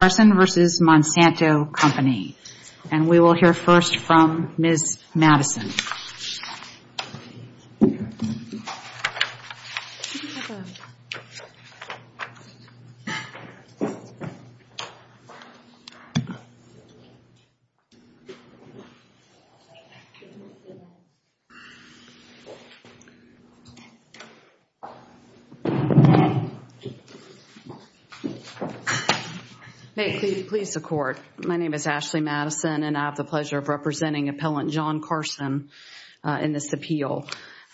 and we will hear first from Ms. Madison. May it please the court. My name is Ashley Madison and I have the pleasure of representing appellant John Carson in this appeal.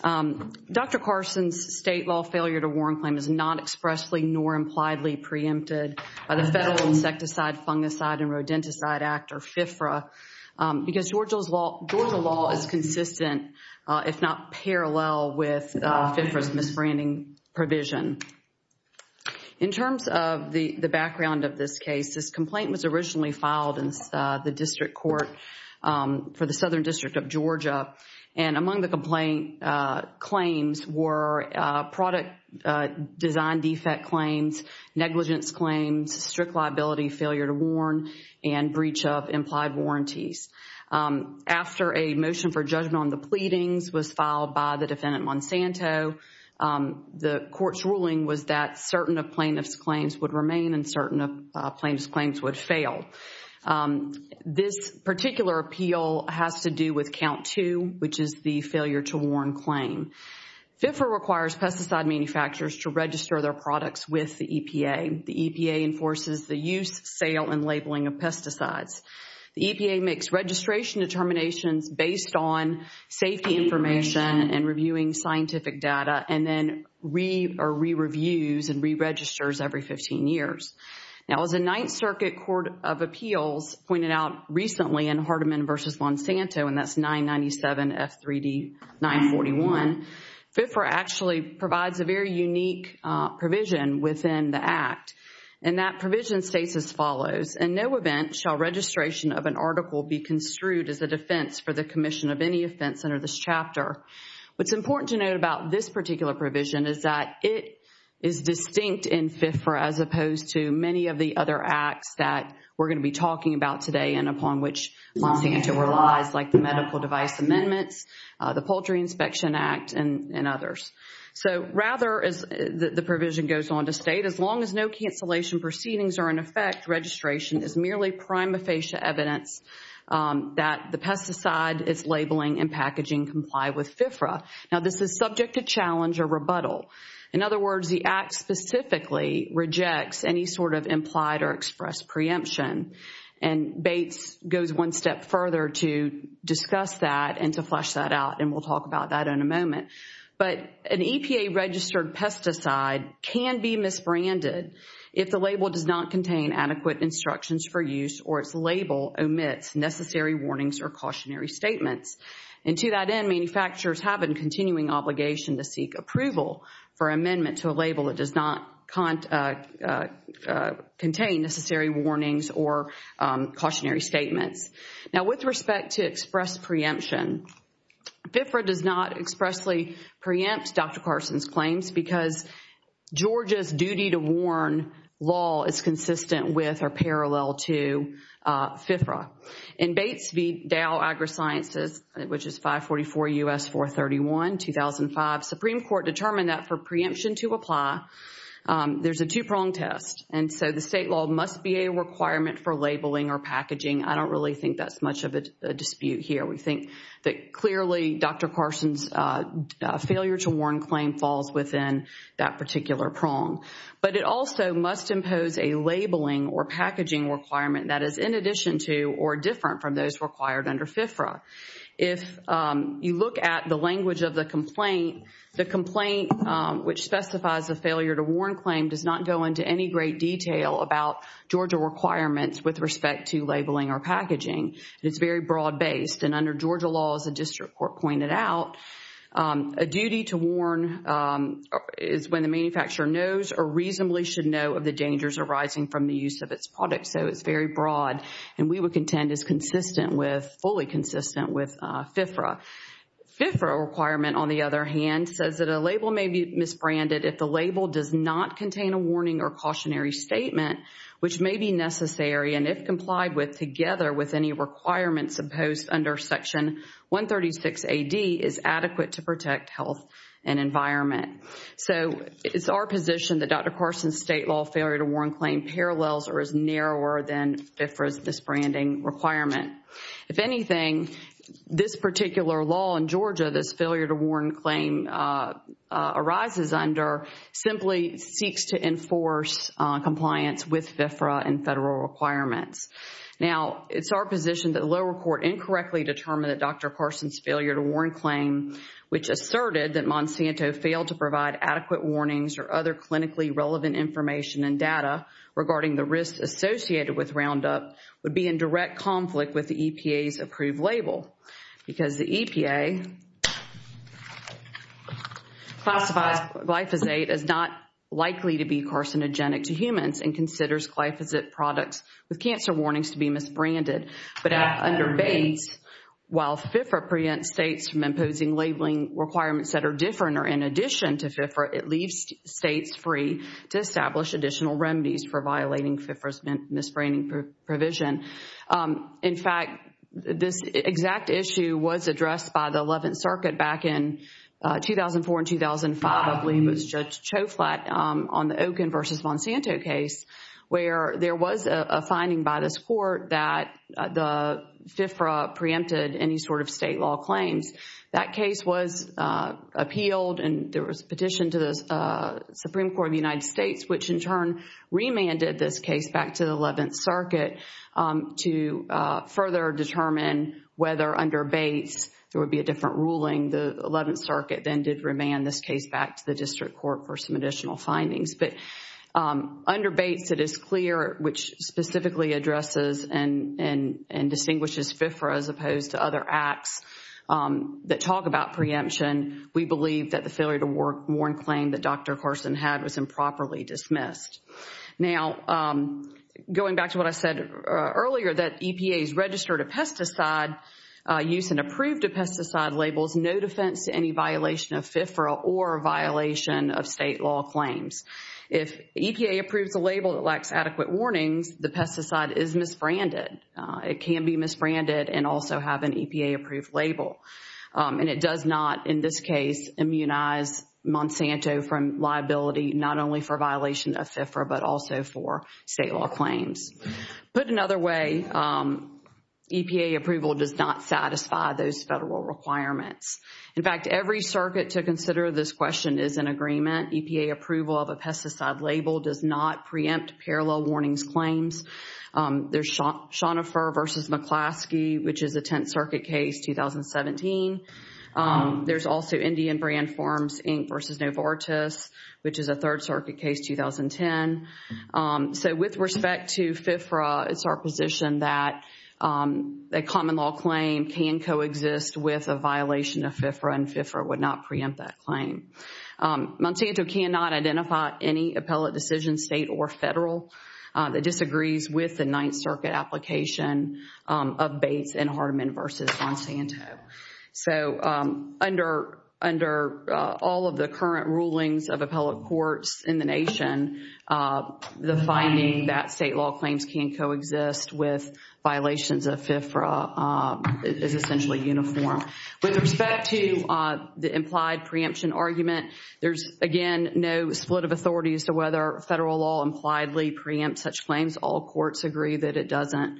Dr. Carson's state law failure to warrant claim is not expressly nor impliedly preempted by the Federal Insecticide, Fungicide and Rodenticide Act or FFRA because Georgia law is consistent if not parallel with FFRA's misbranding provision. In terms of the background of this case, this complaint was originally filed in the district court for the Southern District of Georgia and among the complaint claims were product design defect claims, negligence claims, strict liability, failure to warn and breach of implied warranties. After a motion for judgment on the pleadings was filed by the ruling was that certain of plaintiff's claims would remain and certain of plaintiff's claims would fail. This particular appeal has to do with count two which is the failure to warn claim. FFRA requires pesticide manufacturers to register their products with the EPA. The EPA enforces the use, sale and labeling of pesticides. The EPA makes registration determinations based on safety information and reviewing scientific data and then re-reviews and re-registers every 15 years. Now as the Ninth Circuit Court of Appeals pointed out recently in Hardeman v. Monsanto and that's 997 F3D 941, FFRA actually provides a very unique provision within the act and that provision states as follows, in no event shall registration of an article be construed as a defense for the commission of any offense under this chapter. What's important to note about this particular provision is that it is distinct in FFRA as opposed to many of the other acts that we're going to be talking about today and upon which Monsanto relies like the medical device amendments, the Poultry Inspection Act and others. So rather as the provision goes on to state, as long as no cancellation proceedings are in effect, registration is merely prima facie evidence that the pesticide is labeling and packaging comply with FFRA. Now this is subject to challenge or rebuttal. In other words, the act specifically rejects any sort of implied or expressed preemption and Bates goes one step further to discuss that and to flesh that out and we'll talk about that in a moment. But an EPA registered pesticide can be misbranded if the label does not contain adequate instructions for use or its label omits necessary warnings or cautionary statements. And to that end, manufacturers have a continuing obligation to seek approval for amendment to a label that does not contain necessary warnings or cautionary statements. Now with respect to expressed preemption, FFRA does not expressly preempt Dr. Carson's claims because Georgia's duty to warn law is consistent with or parallel to FFRA. In Bates v. Dow AgriSciences, which is 544 U.S. 431, 2005, Supreme Court determined that for preemption to apply, there's a two-prong test and so the state law must be a requirement for labeling or packaging. I don't really think that's much of a dispute here. We think that clearly Dr. Carson's failure to warn claim falls within that particular prong. But it also must impose a labeling or packaging requirement that is in addition to or different from those required under FFRA. If you look at the language of the complaint, the complaint which specifies a failure to warn claim does not go into any great detail about Georgia requirements with respect to labeling or packaging. It's very broad based and under Georgia law, as the district court pointed out, a duty to warn is when the manufacturer knows or reasonably should know of the dangers arising from the use of its product. So it's very broad and we would contend is consistent with fully consistent with FFRA. FFRA requirement on the other hand says that a label may be a warning or cautionary statement which may be necessary and if complied with together with any requirements imposed under Section 136 AD is adequate to protect health and environment. So it's our position that Dr. Carson's state law failure to warn claim parallels or is narrower than FFRA's disbranding requirement. If anything, this particular law in Georgia, this failure to warn claim arises under simply seeks to enforce compliance with FFRA and federal requirements. Now, it's our position that the lower court incorrectly determined that Dr. Carson's failure to warn claim which asserted that Monsanto failed to provide adequate warnings or other clinically relevant information and data regarding the risks associated with Classifies glyphosate as not likely to be carcinogenic to humans and considers glyphosate products with cancer warnings to be misbranded. But under Bates, while FFRA preempts states from imposing labeling requirements that are different or in addition to FFRA, it leaves states free to establish additional remedies for violating FFRA's misbranding provision. In fact, this exact issue was addressed by the Eleventh Circuit back in 2004 and 2005 of Liam Moots Judge Choflat on the Okin versus Monsanto case where there was a finding by this court that the FFRA preempted any sort of state law claims. That case was appealed and there was petition to the Supreme Court of the United States which in turn remanded this case back to the Eleventh Circuit to further determine whether under Bates there would be a different ruling. The Eleventh Circuit then did remand this case back to the district court for some additional findings. But under Bates, it is clear which specifically addresses and distinguishes FFRA as opposed to other acts that talk about preemption. We believe that the going back to what I said earlier that EPA's registered pesticide use and approved pesticide labels no defense to any violation of FFRA or violation of state law claims. If EPA approves a label that lacks adequate warnings, the pesticide is misbranded. It can be misbranded and also have an EPA approved label. And it does not in this case immunize Monsanto from liability not only for violation of FFRA but also for state law claims. Put another way, EPA approval does not satisfy those federal requirements. In fact, every circuit to consider this question is in agreement. EPA approval of a pesticide label does not preempt parallel warnings claims. There's Shonifer v. McClaskey which is a Tenth Circuit case 2017. There's also Indian Brand Inc. v. Novartis which is a Third Circuit case 2010. So with respect to FFRA, it's our position that a common law claim can coexist with a violation of FFRA and FFRA would not preempt that claim. Monsanto cannot identify any appellate decision state or federal that disagrees with the all of the current rulings of appellate courts in the nation. The finding that state law claims can coexist with violations of FFRA is essentially uniform. With respect to the implied preemption argument, there's again no split of authorities to whether federal law impliedly preempts such claims. All courts agree that it doesn't.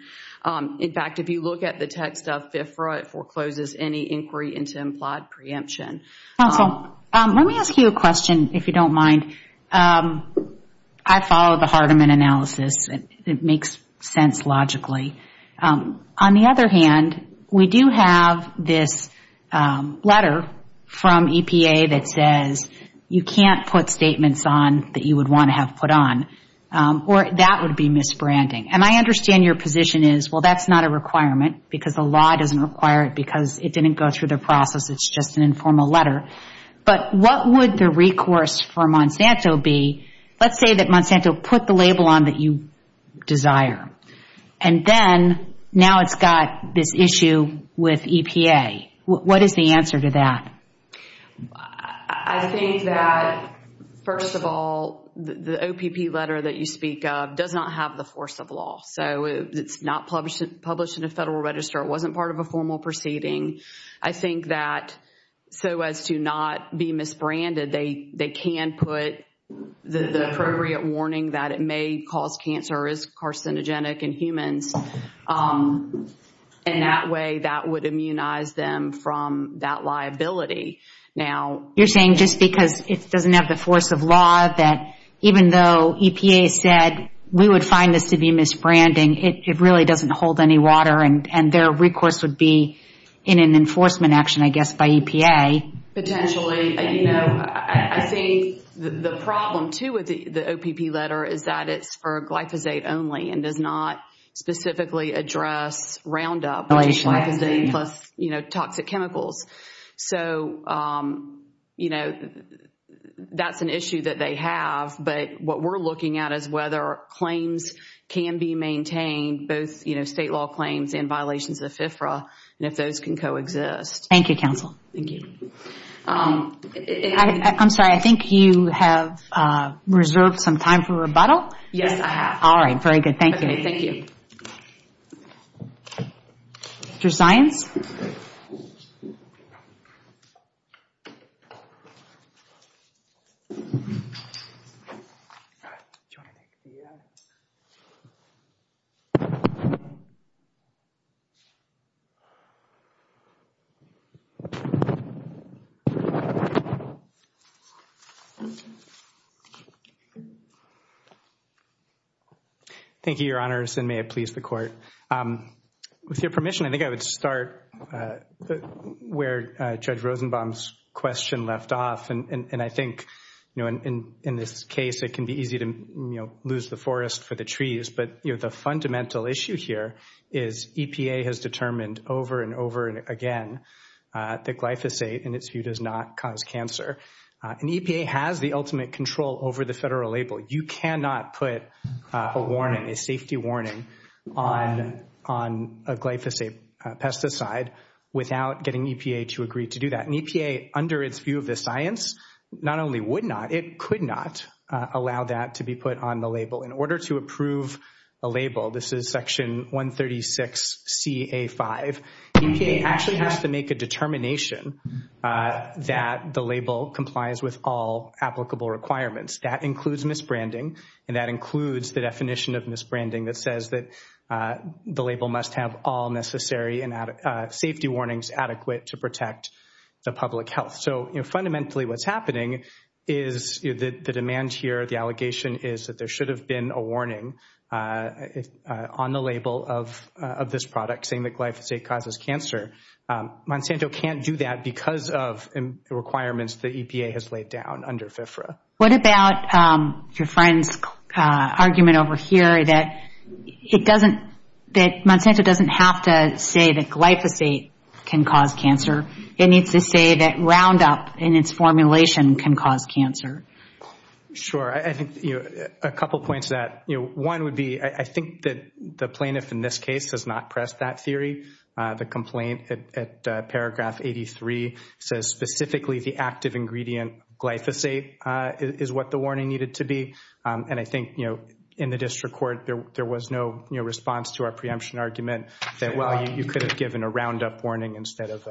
In fact, if you look at the text of FFRA, it forecloses any inquiry into implied preemption. Counsel, let me ask you a question if you don't mind. I follow the Hardeman analysis. It makes sense logically. On the other hand, we do have this letter from EPA that says you can't put statements on that you would want to have put on or that would be misbranding. And I understand your position is, well, that's not a requirement because the law doesn't require it because it didn't go through the process. It's just an informal letter. But what would the recourse for Monsanto be? Let's say that Monsanto put the label on that you desire. And then now it's got this issue with EPA. What is the answer to that? I think that, first of all, the OPP letter that you speak of does not have the force of law. So it's not published in a federal register. It wasn't part of a formal proceeding. I think that so as to not be misbranded, they can put the appropriate warning that it may cause cancer as carcinogenic in humans. And that way, that would immunize them from that liability. Now, you're saying just because it doesn't have the force of law that even though EPA said we would find this to be misbranding, it really doesn't hold any water and their recourse would be in an enforcement action, I guess, by EPA? Potentially. You know, I think the problem, too, with the OPP letter is that it's for glyphosate only and does not specifically address Roundup, which is glyphosate plus toxic chemicals. So, you know, that's an issue that they have. But what we're looking at is whether claims can be maintained, both, you know, state law claims and violations of FFRA, and if those can coexist. Thank you, counsel. Thank you. I'm sorry. I think you have reserved some time for rebuttal. Yes, I have. All right. Very good. Thank you. Thank you. Mr. Zients? Thank you, Your Honors, and may it please the Court. With your permission, I think I would start where Judge Rosenbaum's question left off, and I think, you know, in this case, it can be easy to, you know, lose the forest for the trees. But, you know, the fundamental issue here is EPA has determined over and over again that glyphosate, in its view, does not cause cancer. And EPA has the ultimate control over the federal label. You cannot put a warning, a safety warning, on a glyphosate pesticide without getting EPA to agree to do that. And EPA, under its view of the science, not only would not, it could not allow that to be put on the label. In order to approve a label, this is Section 136CA5, EPA actually has to make a determination that the label complies with all applicable requirements. That includes misbranding, and that includes the definition of misbranding that says that the label must have all necessary and safety warnings adequate to protect the public health. So, you know, fundamentally, what's happening is the demand here, the allegation is that there should have been a warning on the label of this product saying that glyphosate causes cancer. Monsanto can't do that because of requirements that EPA has laid down under FFRA. What about your friend's argument over here that it doesn't, that Monsanto doesn't have to say that glyphosate can cause cancer. It needs to say that Roundup, in its formulation, can cause cancer. Sure. I think, you know, a couple points that, you know, one would be, I think that the plaintiff in this case does not press that theory. The complaint at paragraph 83 says specifically the active ingredient glyphosate is what the warning needed to be. And I think, you know, in the district court, there was no response to our preemption argument that, well, you could have given a Roundup warning instead of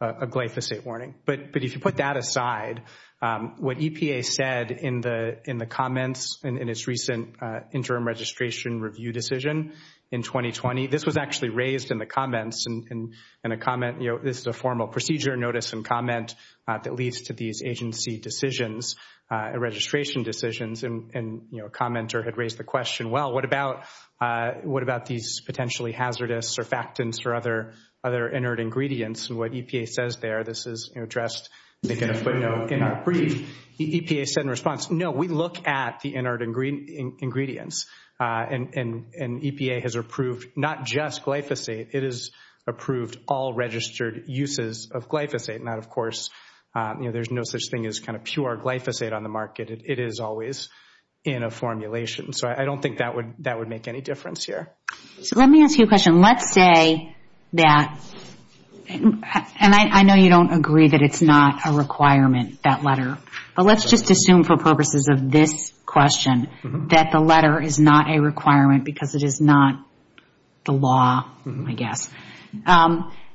a glyphosate warning. But if you put that aside, what EPA said in the comments in its recent interim registration review decision in 2020, this was actually raised in the comments and a comment, you know, this is a formal procedure notice and comment that leads to these agency decisions, registration decisions, and, you know, a commenter had raised the question, well, what about these potentially hazardous surfactants or other inert ingredients? And what EPA says there, this is addressed, making a footnote in our brief, the EPA said in response, no, we look at the inert ingredients. And EPA has approved not just glyphosate, it has approved all registered uses of glyphosate. Now, of course, you know, there's no such thing as kind of pure glyphosate on the market. It is always in a formulation. So I don't think that would make any difference here. So let me ask you a question. Let's say that, and I know you don't agree that it's not a requirement, that letter, but let's just assume for purposes of this question that the letter is not a requirement because it is not the law, I guess.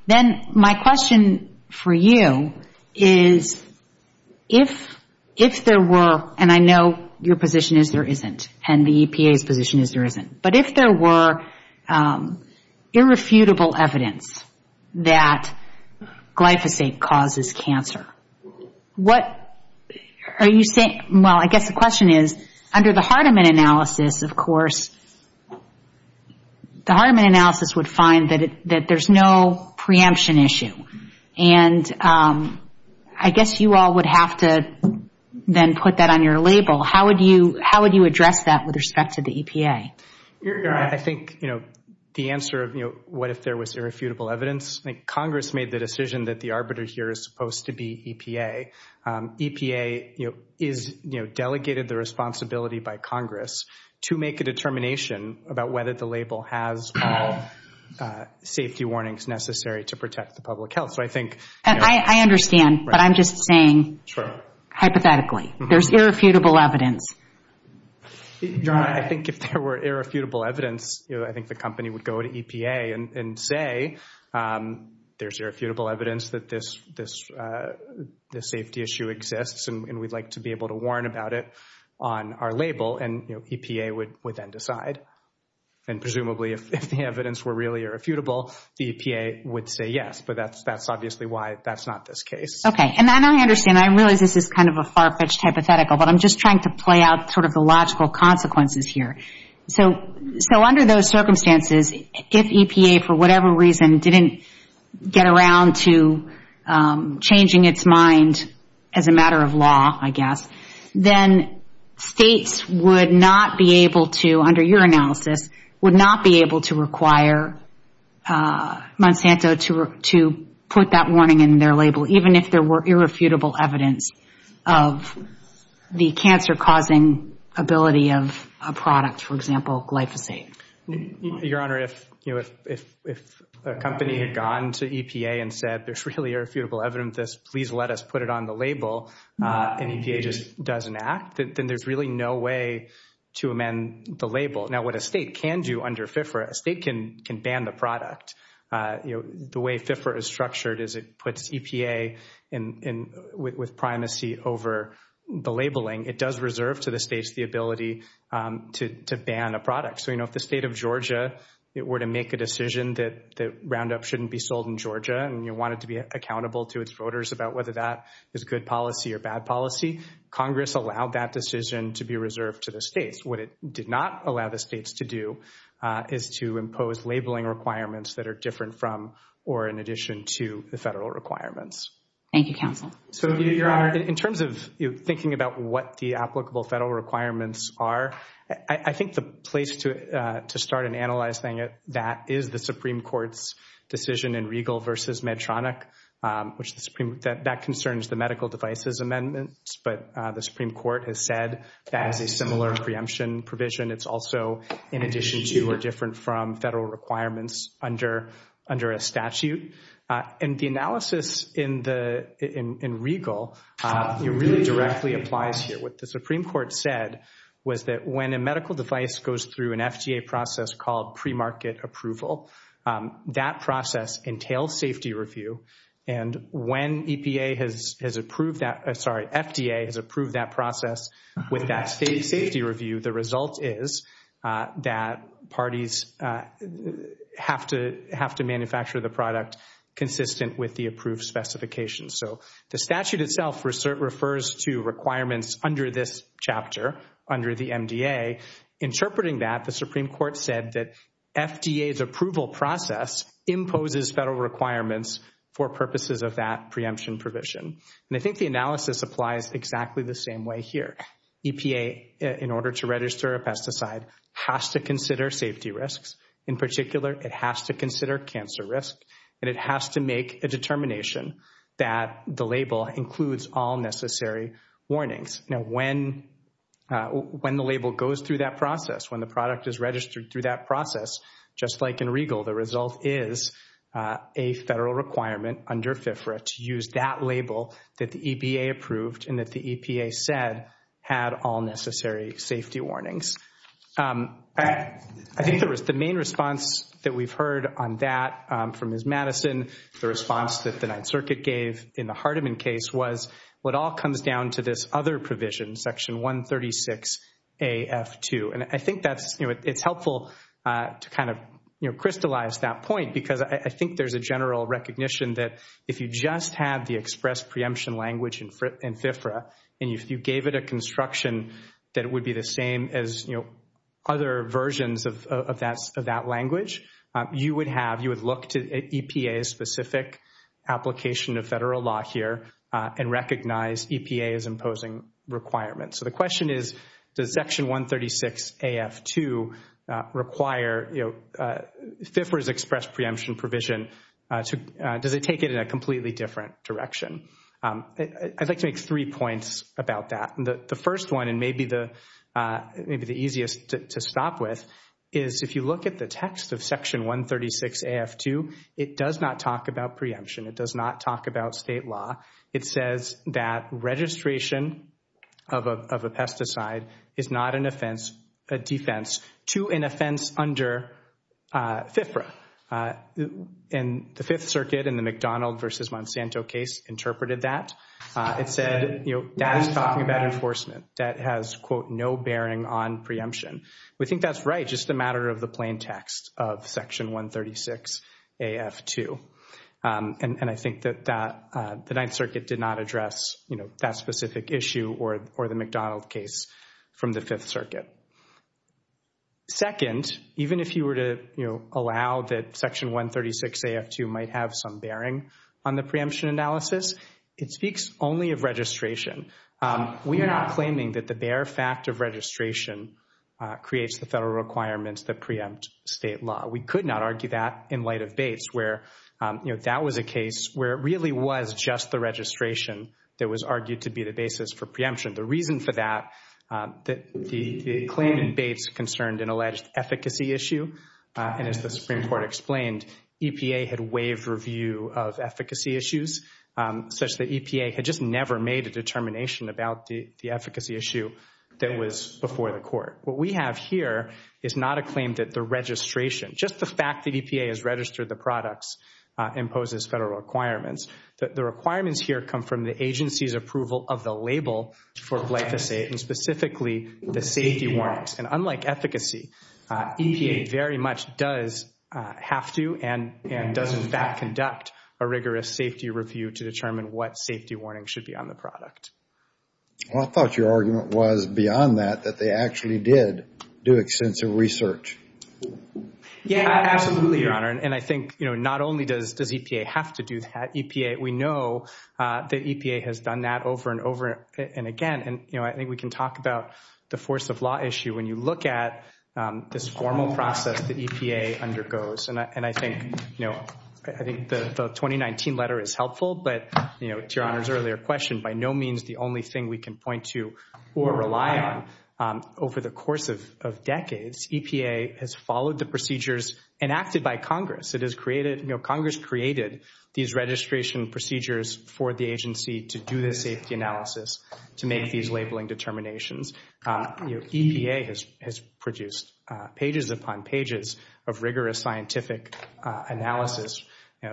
Then my question for you is if there were, and I position is there isn't, but if there were irrefutable evidence that glyphosate causes cancer, what are you saying, well, I guess the question is, under the Hardiman analysis, of course, the Hardiman analysis would find that there's no preemption issue. And I guess you all would have to then put that on your label. How would you address that with respect to the EPA? I think, you know, the answer of, you know, what if there was irrefutable evidence? I think Congress made the decision that the arbiter here is supposed to be EPA. EPA, you know, is, you know, delegated the responsibility by Congress to make a determination about whether the label has all safety warnings necessary to protect the public health. So I think... I understand, but I'm just saying, hypothetically, there's irrefutable evidence. I think if there were irrefutable evidence, you know, I think the company would go to EPA and say there's irrefutable evidence that this safety issue exists and we'd like to be able to warn about it on our label and, you know, EPA would then decide. And presumably if the evidence were really irrefutable, the EPA would say yes, but that's obviously why that's not this case. Okay. And I understand. I realize this is kind of a far-fetched hypothetical, but I'm just trying to play out sort of the logical consequences here. So under those circumstances, if EPA, for whatever reason, didn't get around to changing its mind as a matter of law, I guess, then states would not be able to, under your analysis, would not be able to require Monsanto to put that warning in their label, even if there were irrefutable evidence of the cancer-causing ability of a product, for example, glyphosate. Your Honor, if a company had gone to EPA and said there's really irrefutable evidence, please let us put it on the label, and EPA just doesn't act, then there's really no way to amend the label. Now, what a state can do under FIFRA, a state can ban the product. You know, the way FIFRA is structured is it puts EPA with primacy over the labeling. It does reserve to the states the ability to ban a product. So, you know, if the state of Georgia were to make a decision that Roundup shouldn't be sold in Georgia, and you want it to be accountable to its voters about whether that is good policy or bad policy, Congress allowed that to the states. What it did not allow the states to do is to impose labeling requirements that are different from or in addition to the federal requirements. Thank you, counsel. So, your Honor, in terms of thinking about what the applicable federal requirements are, I think the place to start and analyze that is the Supreme Court's decision in Regal v. Medtronic, which the Supreme, that concerns the medical devices amendments, but the Supreme Court has that as a similar preemption provision. It's also in addition to or different from federal requirements under a statute. And the analysis in Regal, it really directly applies here. What the Supreme Court said was that when a medical device goes through an FDA process called premarket approval, that process entails safety review. And when EPA has approved that, sorry, with that safety review, the result is that parties have to manufacture the product consistent with the approved specifications. So, the statute itself refers to requirements under this chapter, under the MDA. Interpreting that, the Supreme Court said that FDA's approval process imposes federal requirements for purposes of that preemption provision. And I think the analysis applies exactly the same way here. EPA, in order to register a pesticide, has to consider safety risks. In particular, it has to consider cancer risk. And it has to make a determination that the label includes all necessary warnings. Now, when the label goes through that process, when the product is registered through that process, just like in Regal, the result is a federal requirement under FFRA to use that label that the EPA approved and that the EPA said had all necessary safety warnings. I think the main response that we've heard on that from Ms. Madison, the response that the Ninth Circuit gave in the Hardeman case was, what all comes down to this other provision, Section 136 AF2. And I think that's, you know, it's helpful to kind of, you know, crystallize that point because I think there's a general recognition that if you just had the express preemption language in FFRA, and if you gave it a construction that it would be the same as, you know, other versions of that language, you would have, you would look to EPA's specific application of federal law here and recognize EPA's imposing requirements. So the question is, does Section 136 AF2 require, you know, FFRA's express preemption provision, does it take it in a completely different direction? I'd like to make three points about that. The first one, and maybe the easiest to stop with, is if you look at the text of Section 136 AF2, it does not talk about preemption. It does not about state law. It says that registration of a pesticide is not an offense, a defense, to an offense under FFRA. And the Fifth Circuit in the McDonald versus Monsanto case interpreted that. It said, you know, that is talking about enforcement that has, quote, no bearing on preemption. We think that's right, just a matter of the plain text of Section 136 AF2. And I think that the Ninth Circuit did not address, you know, that specific issue or the McDonald case from the Fifth Circuit. Second, even if you were to, you know, allow that Section 136 AF2 might have some bearing on the preemption analysis, it speaks only of registration. We are not claiming that the bare fact of registration creates the federal requirements that preempt state law. We could not argue that in light of Bates where, you know, that was a case where it really was just the registration that was argued to be the basis for preemption. The reason for that, the claim in Bates concerned an alleged efficacy issue. And as the Supreme Court explained, EPA had waived review of efficacy issues such that EPA had just never made a determination about the efficacy issue that was before the court. What we have here is not a claim that the registration, just the fact that EPA has registered the products imposes federal requirements, that the requirements here come from the agency's approval of the label for glyphosate and specifically the safety warnings. And unlike efficacy, EPA very much does have to and does in fact conduct a rigorous safety review to determine what safety warning should be on the product. Well, I thought your argument was beyond that, that they actually did do extensive research. Yeah, absolutely, Your Honor. And I think, you know, not only does EPA have to do that, EPA, we know that EPA has done that over and over and again. And, you know, I think we can talk about the force of law issue when you look at this formal process that EPA undergoes. And I think, you know, I think the 2019 letter is helpful, but, you know, to Your Honor's earlier question, by no means the only thing we can point to or rely on over the course of decades, EPA has followed the procedures enacted by Congress. It has created, you know, Congress created these registration procedures for the agency to do the safety analysis, to make these labeling determinations. You know, EPA has produced pages upon pages of rigorous scientific analysis,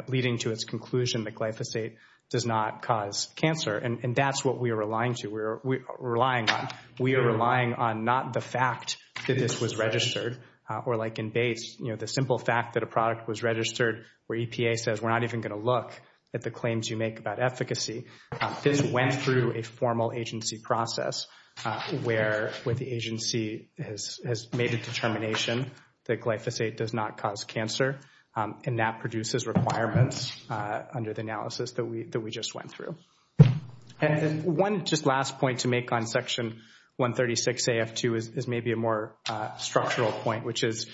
leading to its conclusion that glyphosate does not cause cancer. And that's what we are relying to, we're relying on. We are relying on not the fact that this was registered, or like in Bates, you know, the simple fact that a product was registered, where EPA says we're not even going to look at the claims you make about efficacy. This went through a formal agency process, where the agency has made a determination that glyphosate does not cause cancer, and that produces requirements under the analysis that we just went through. And one just last point to make on Section 136 AF2 is maybe a more structural point, which is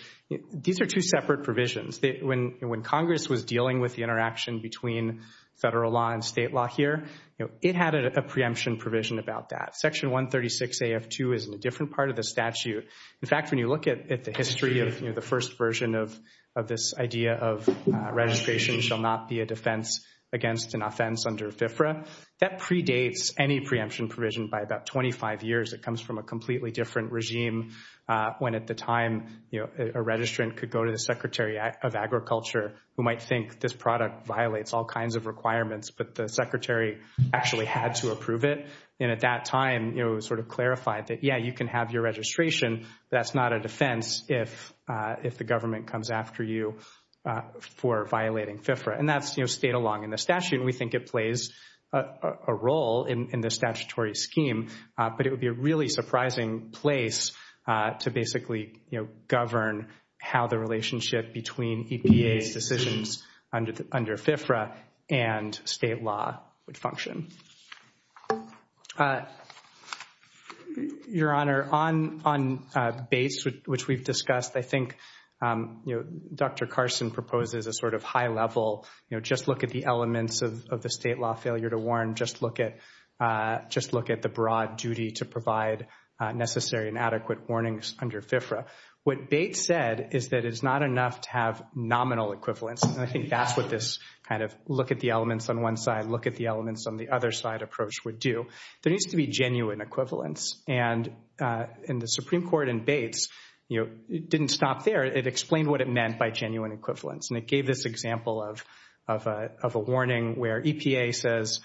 these are two separate provisions. When Congress was dealing with the interaction between federal law and state law here, you know, it had a preemption provision about that. Section 136 AF2 is in a different part of the statute. In fact, when you look at the history of, you know, the first version of this idea of registration shall not be a defense against an offense under FFRA, that predates any preemption provision by about 25 years. It comes from a completely different regime, when at the time, you know, a registrant could go to the Secretary of Agriculture, who might think this product violates all kinds of requirements, but the Secretary actually had to approve it. And at that time, you know, sort of clarified that, yeah, you can have your registration, but that's not a defense if the government comes after you for violating FFRA. And that's, you know, stayed along in the statute, and we think it plays a role in the statutory scheme, but it would be a really surprising place to basically, you know, govern how the relationship between EPA's decisions under FFRA and state law would function. Your Honor, on Bates, which we've discussed, I think, you know, Dr. Carson proposes a sort of high level, you know, just look at the elements of the state law failure to warn, just look at the broad duty to provide necessary and adequate warnings under FFRA. What Bates said is that it's not enough to have nominal equivalence, and I think that's what this kind of look at the elements on side, look at the elements on the other side approach would do. There needs to be genuine equivalence, and in the Supreme Court in Bates, you know, it didn't stop there. It explained what it meant by genuine equivalence, and it gave this example of a warning where EPA says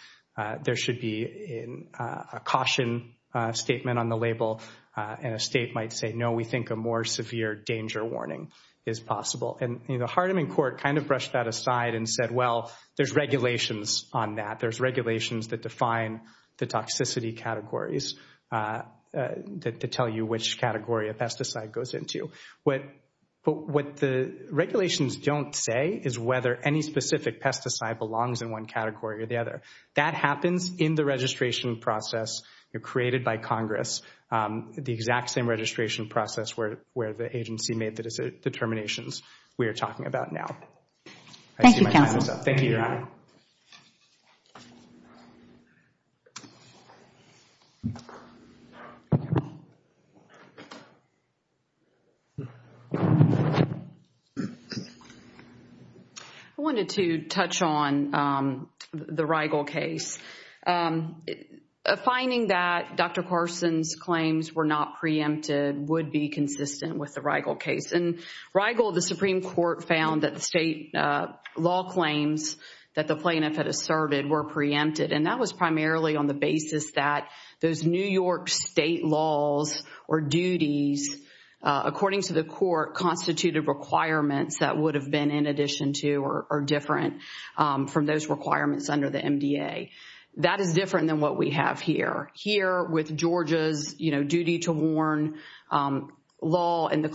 there should be a caution statement on the label, and a state might say, no, we think a more severe danger warning is possible. And the Hardiman Court kind of brushed that aside and said, well, there's regulations on that. There's regulations that define the toxicity categories to tell you which category a pesticide goes into. But what the regulations don't say is whether any specific pesticide belongs in one category or the other. That happens in the registration process created by Congress, the exact same registration process where the agency made the determinations we are talking about. I wanted to touch on the Rigel case. Finding that Dr. Carson's claims were not preempted would be consistent with the Rigel case. And Rigel, the Supreme Court found that the state law claims that the plaintiff had asserted were preempted, and that was primarily on the basis that those New York state laws or duties, according to the court, constituted requirements that would have been in addition to or different from those requirements under the MDA. That is different than what we have here. Here, with Georgia's, you know, duty to warn law and the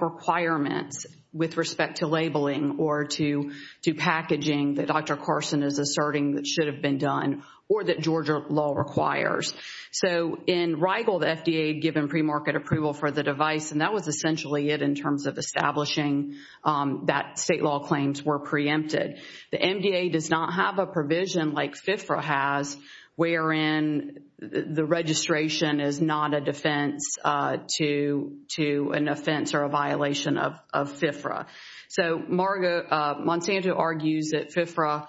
requirements with respect to labeling or to packaging that Dr. Carson is asserting that should have been done or that Georgia law requires. So in Rigel, the FDA had given premarket approval for the device, and that was essentially it in terms of establishing that state law claims were preempted. The MDA does not have a provision like FIFRA has wherein the registration is not a defense to an offense or a violation of FIFRA. So Monsanto argues that FIFRA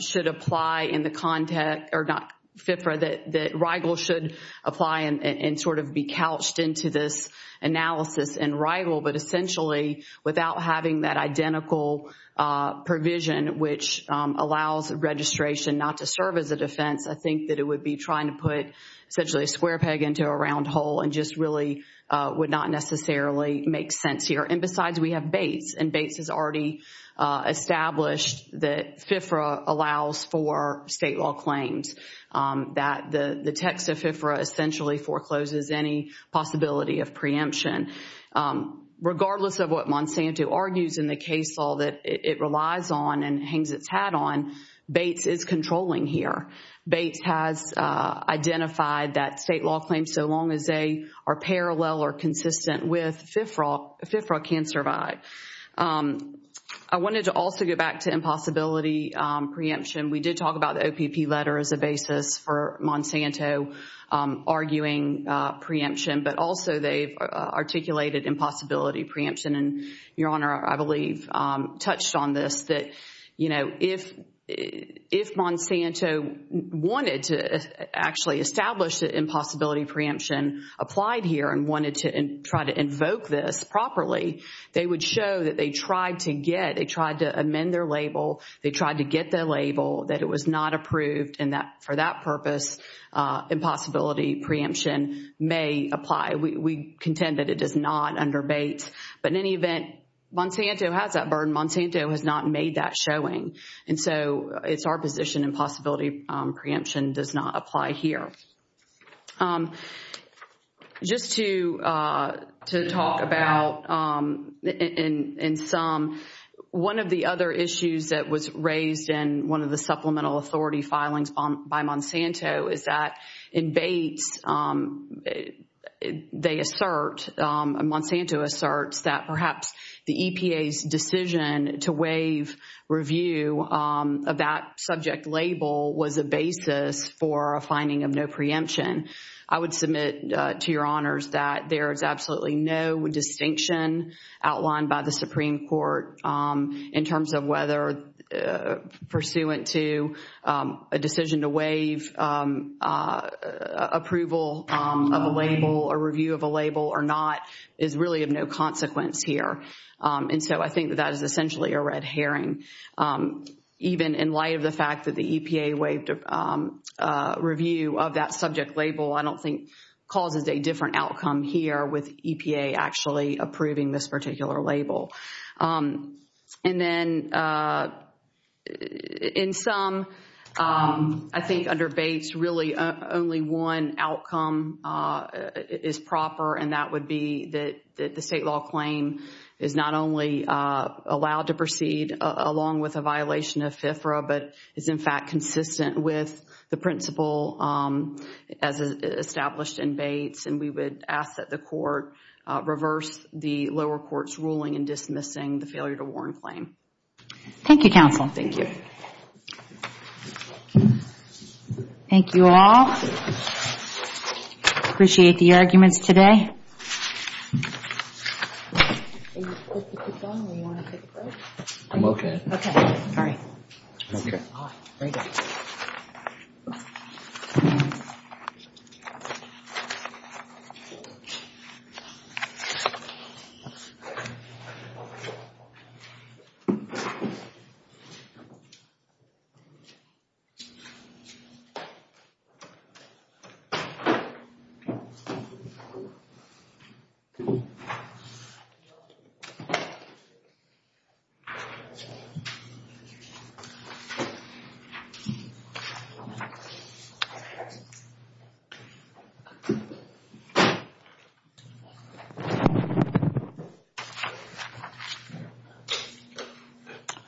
should apply in the context, or not FIFRA, that Rigel should apply and sort of be couched into this analysis in Rigel, but essentially without having that defense, I think that it would be trying to put essentially a square peg into a round hole and just really would not necessarily make sense here. And besides, we have Bates, and Bates has already established that FIFRA allows for state law claims, that the text of FIFRA essentially forecloses any possibility of preemption. Regardless of what Monsanto argues in the chat on, Bates is controlling here. Bates has identified that state law claims, so long as they are parallel or consistent with FIFRA, FIFRA can survive. I wanted to also go back to impossibility preemption. We did talk about the OPP letter as a basis for Monsanto arguing preemption, but also they've articulated impossibility preemption, and Your Honor, I believe, touched on this that, you know, if Monsanto wanted to actually establish that impossibility preemption applied here and wanted to try to invoke this properly, they would show that they tried to get, they tried to amend their label, they tried to get their label, that it was not approved, and that for that purpose, impossibility preemption may apply. We contend that it is not under Bates, but in any event, Monsanto has that burden. Monsanto has not made that showing, and so it's our position impossibility preemption does not apply here. Just to talk about, in sum, one of the other issues that was raised in one of the supplemental reports, that perhaps the EPA's decision to waive review of that subject label was a basis for a finding of no preemption. I would submit to Your Honors that there is absolutely no distinction outlined by the Supreme Court in terms of whether pursuant to a decision to waive approval of a label, a review of a label or not, is really of no consequence here, and so I think that is essentially a red herring. Even in light of the fact that the EPA waived review of that subject label, I don't think causes a different outcome here with EPA actually approving this particular label. In sum, I think under Bates, really only one outcome is proper, and that would be that the state law claim is not only allowed to proceed along with a violation of FFRA, but is in fact consistent with the principle as established in Bates, and we would ask that the court reverse the lower court's ruling in dismissing the failure to warn claim. Thank you, counsel. Thank you. Thank you all. Appreciate the arguments today.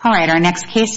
All right, our next case...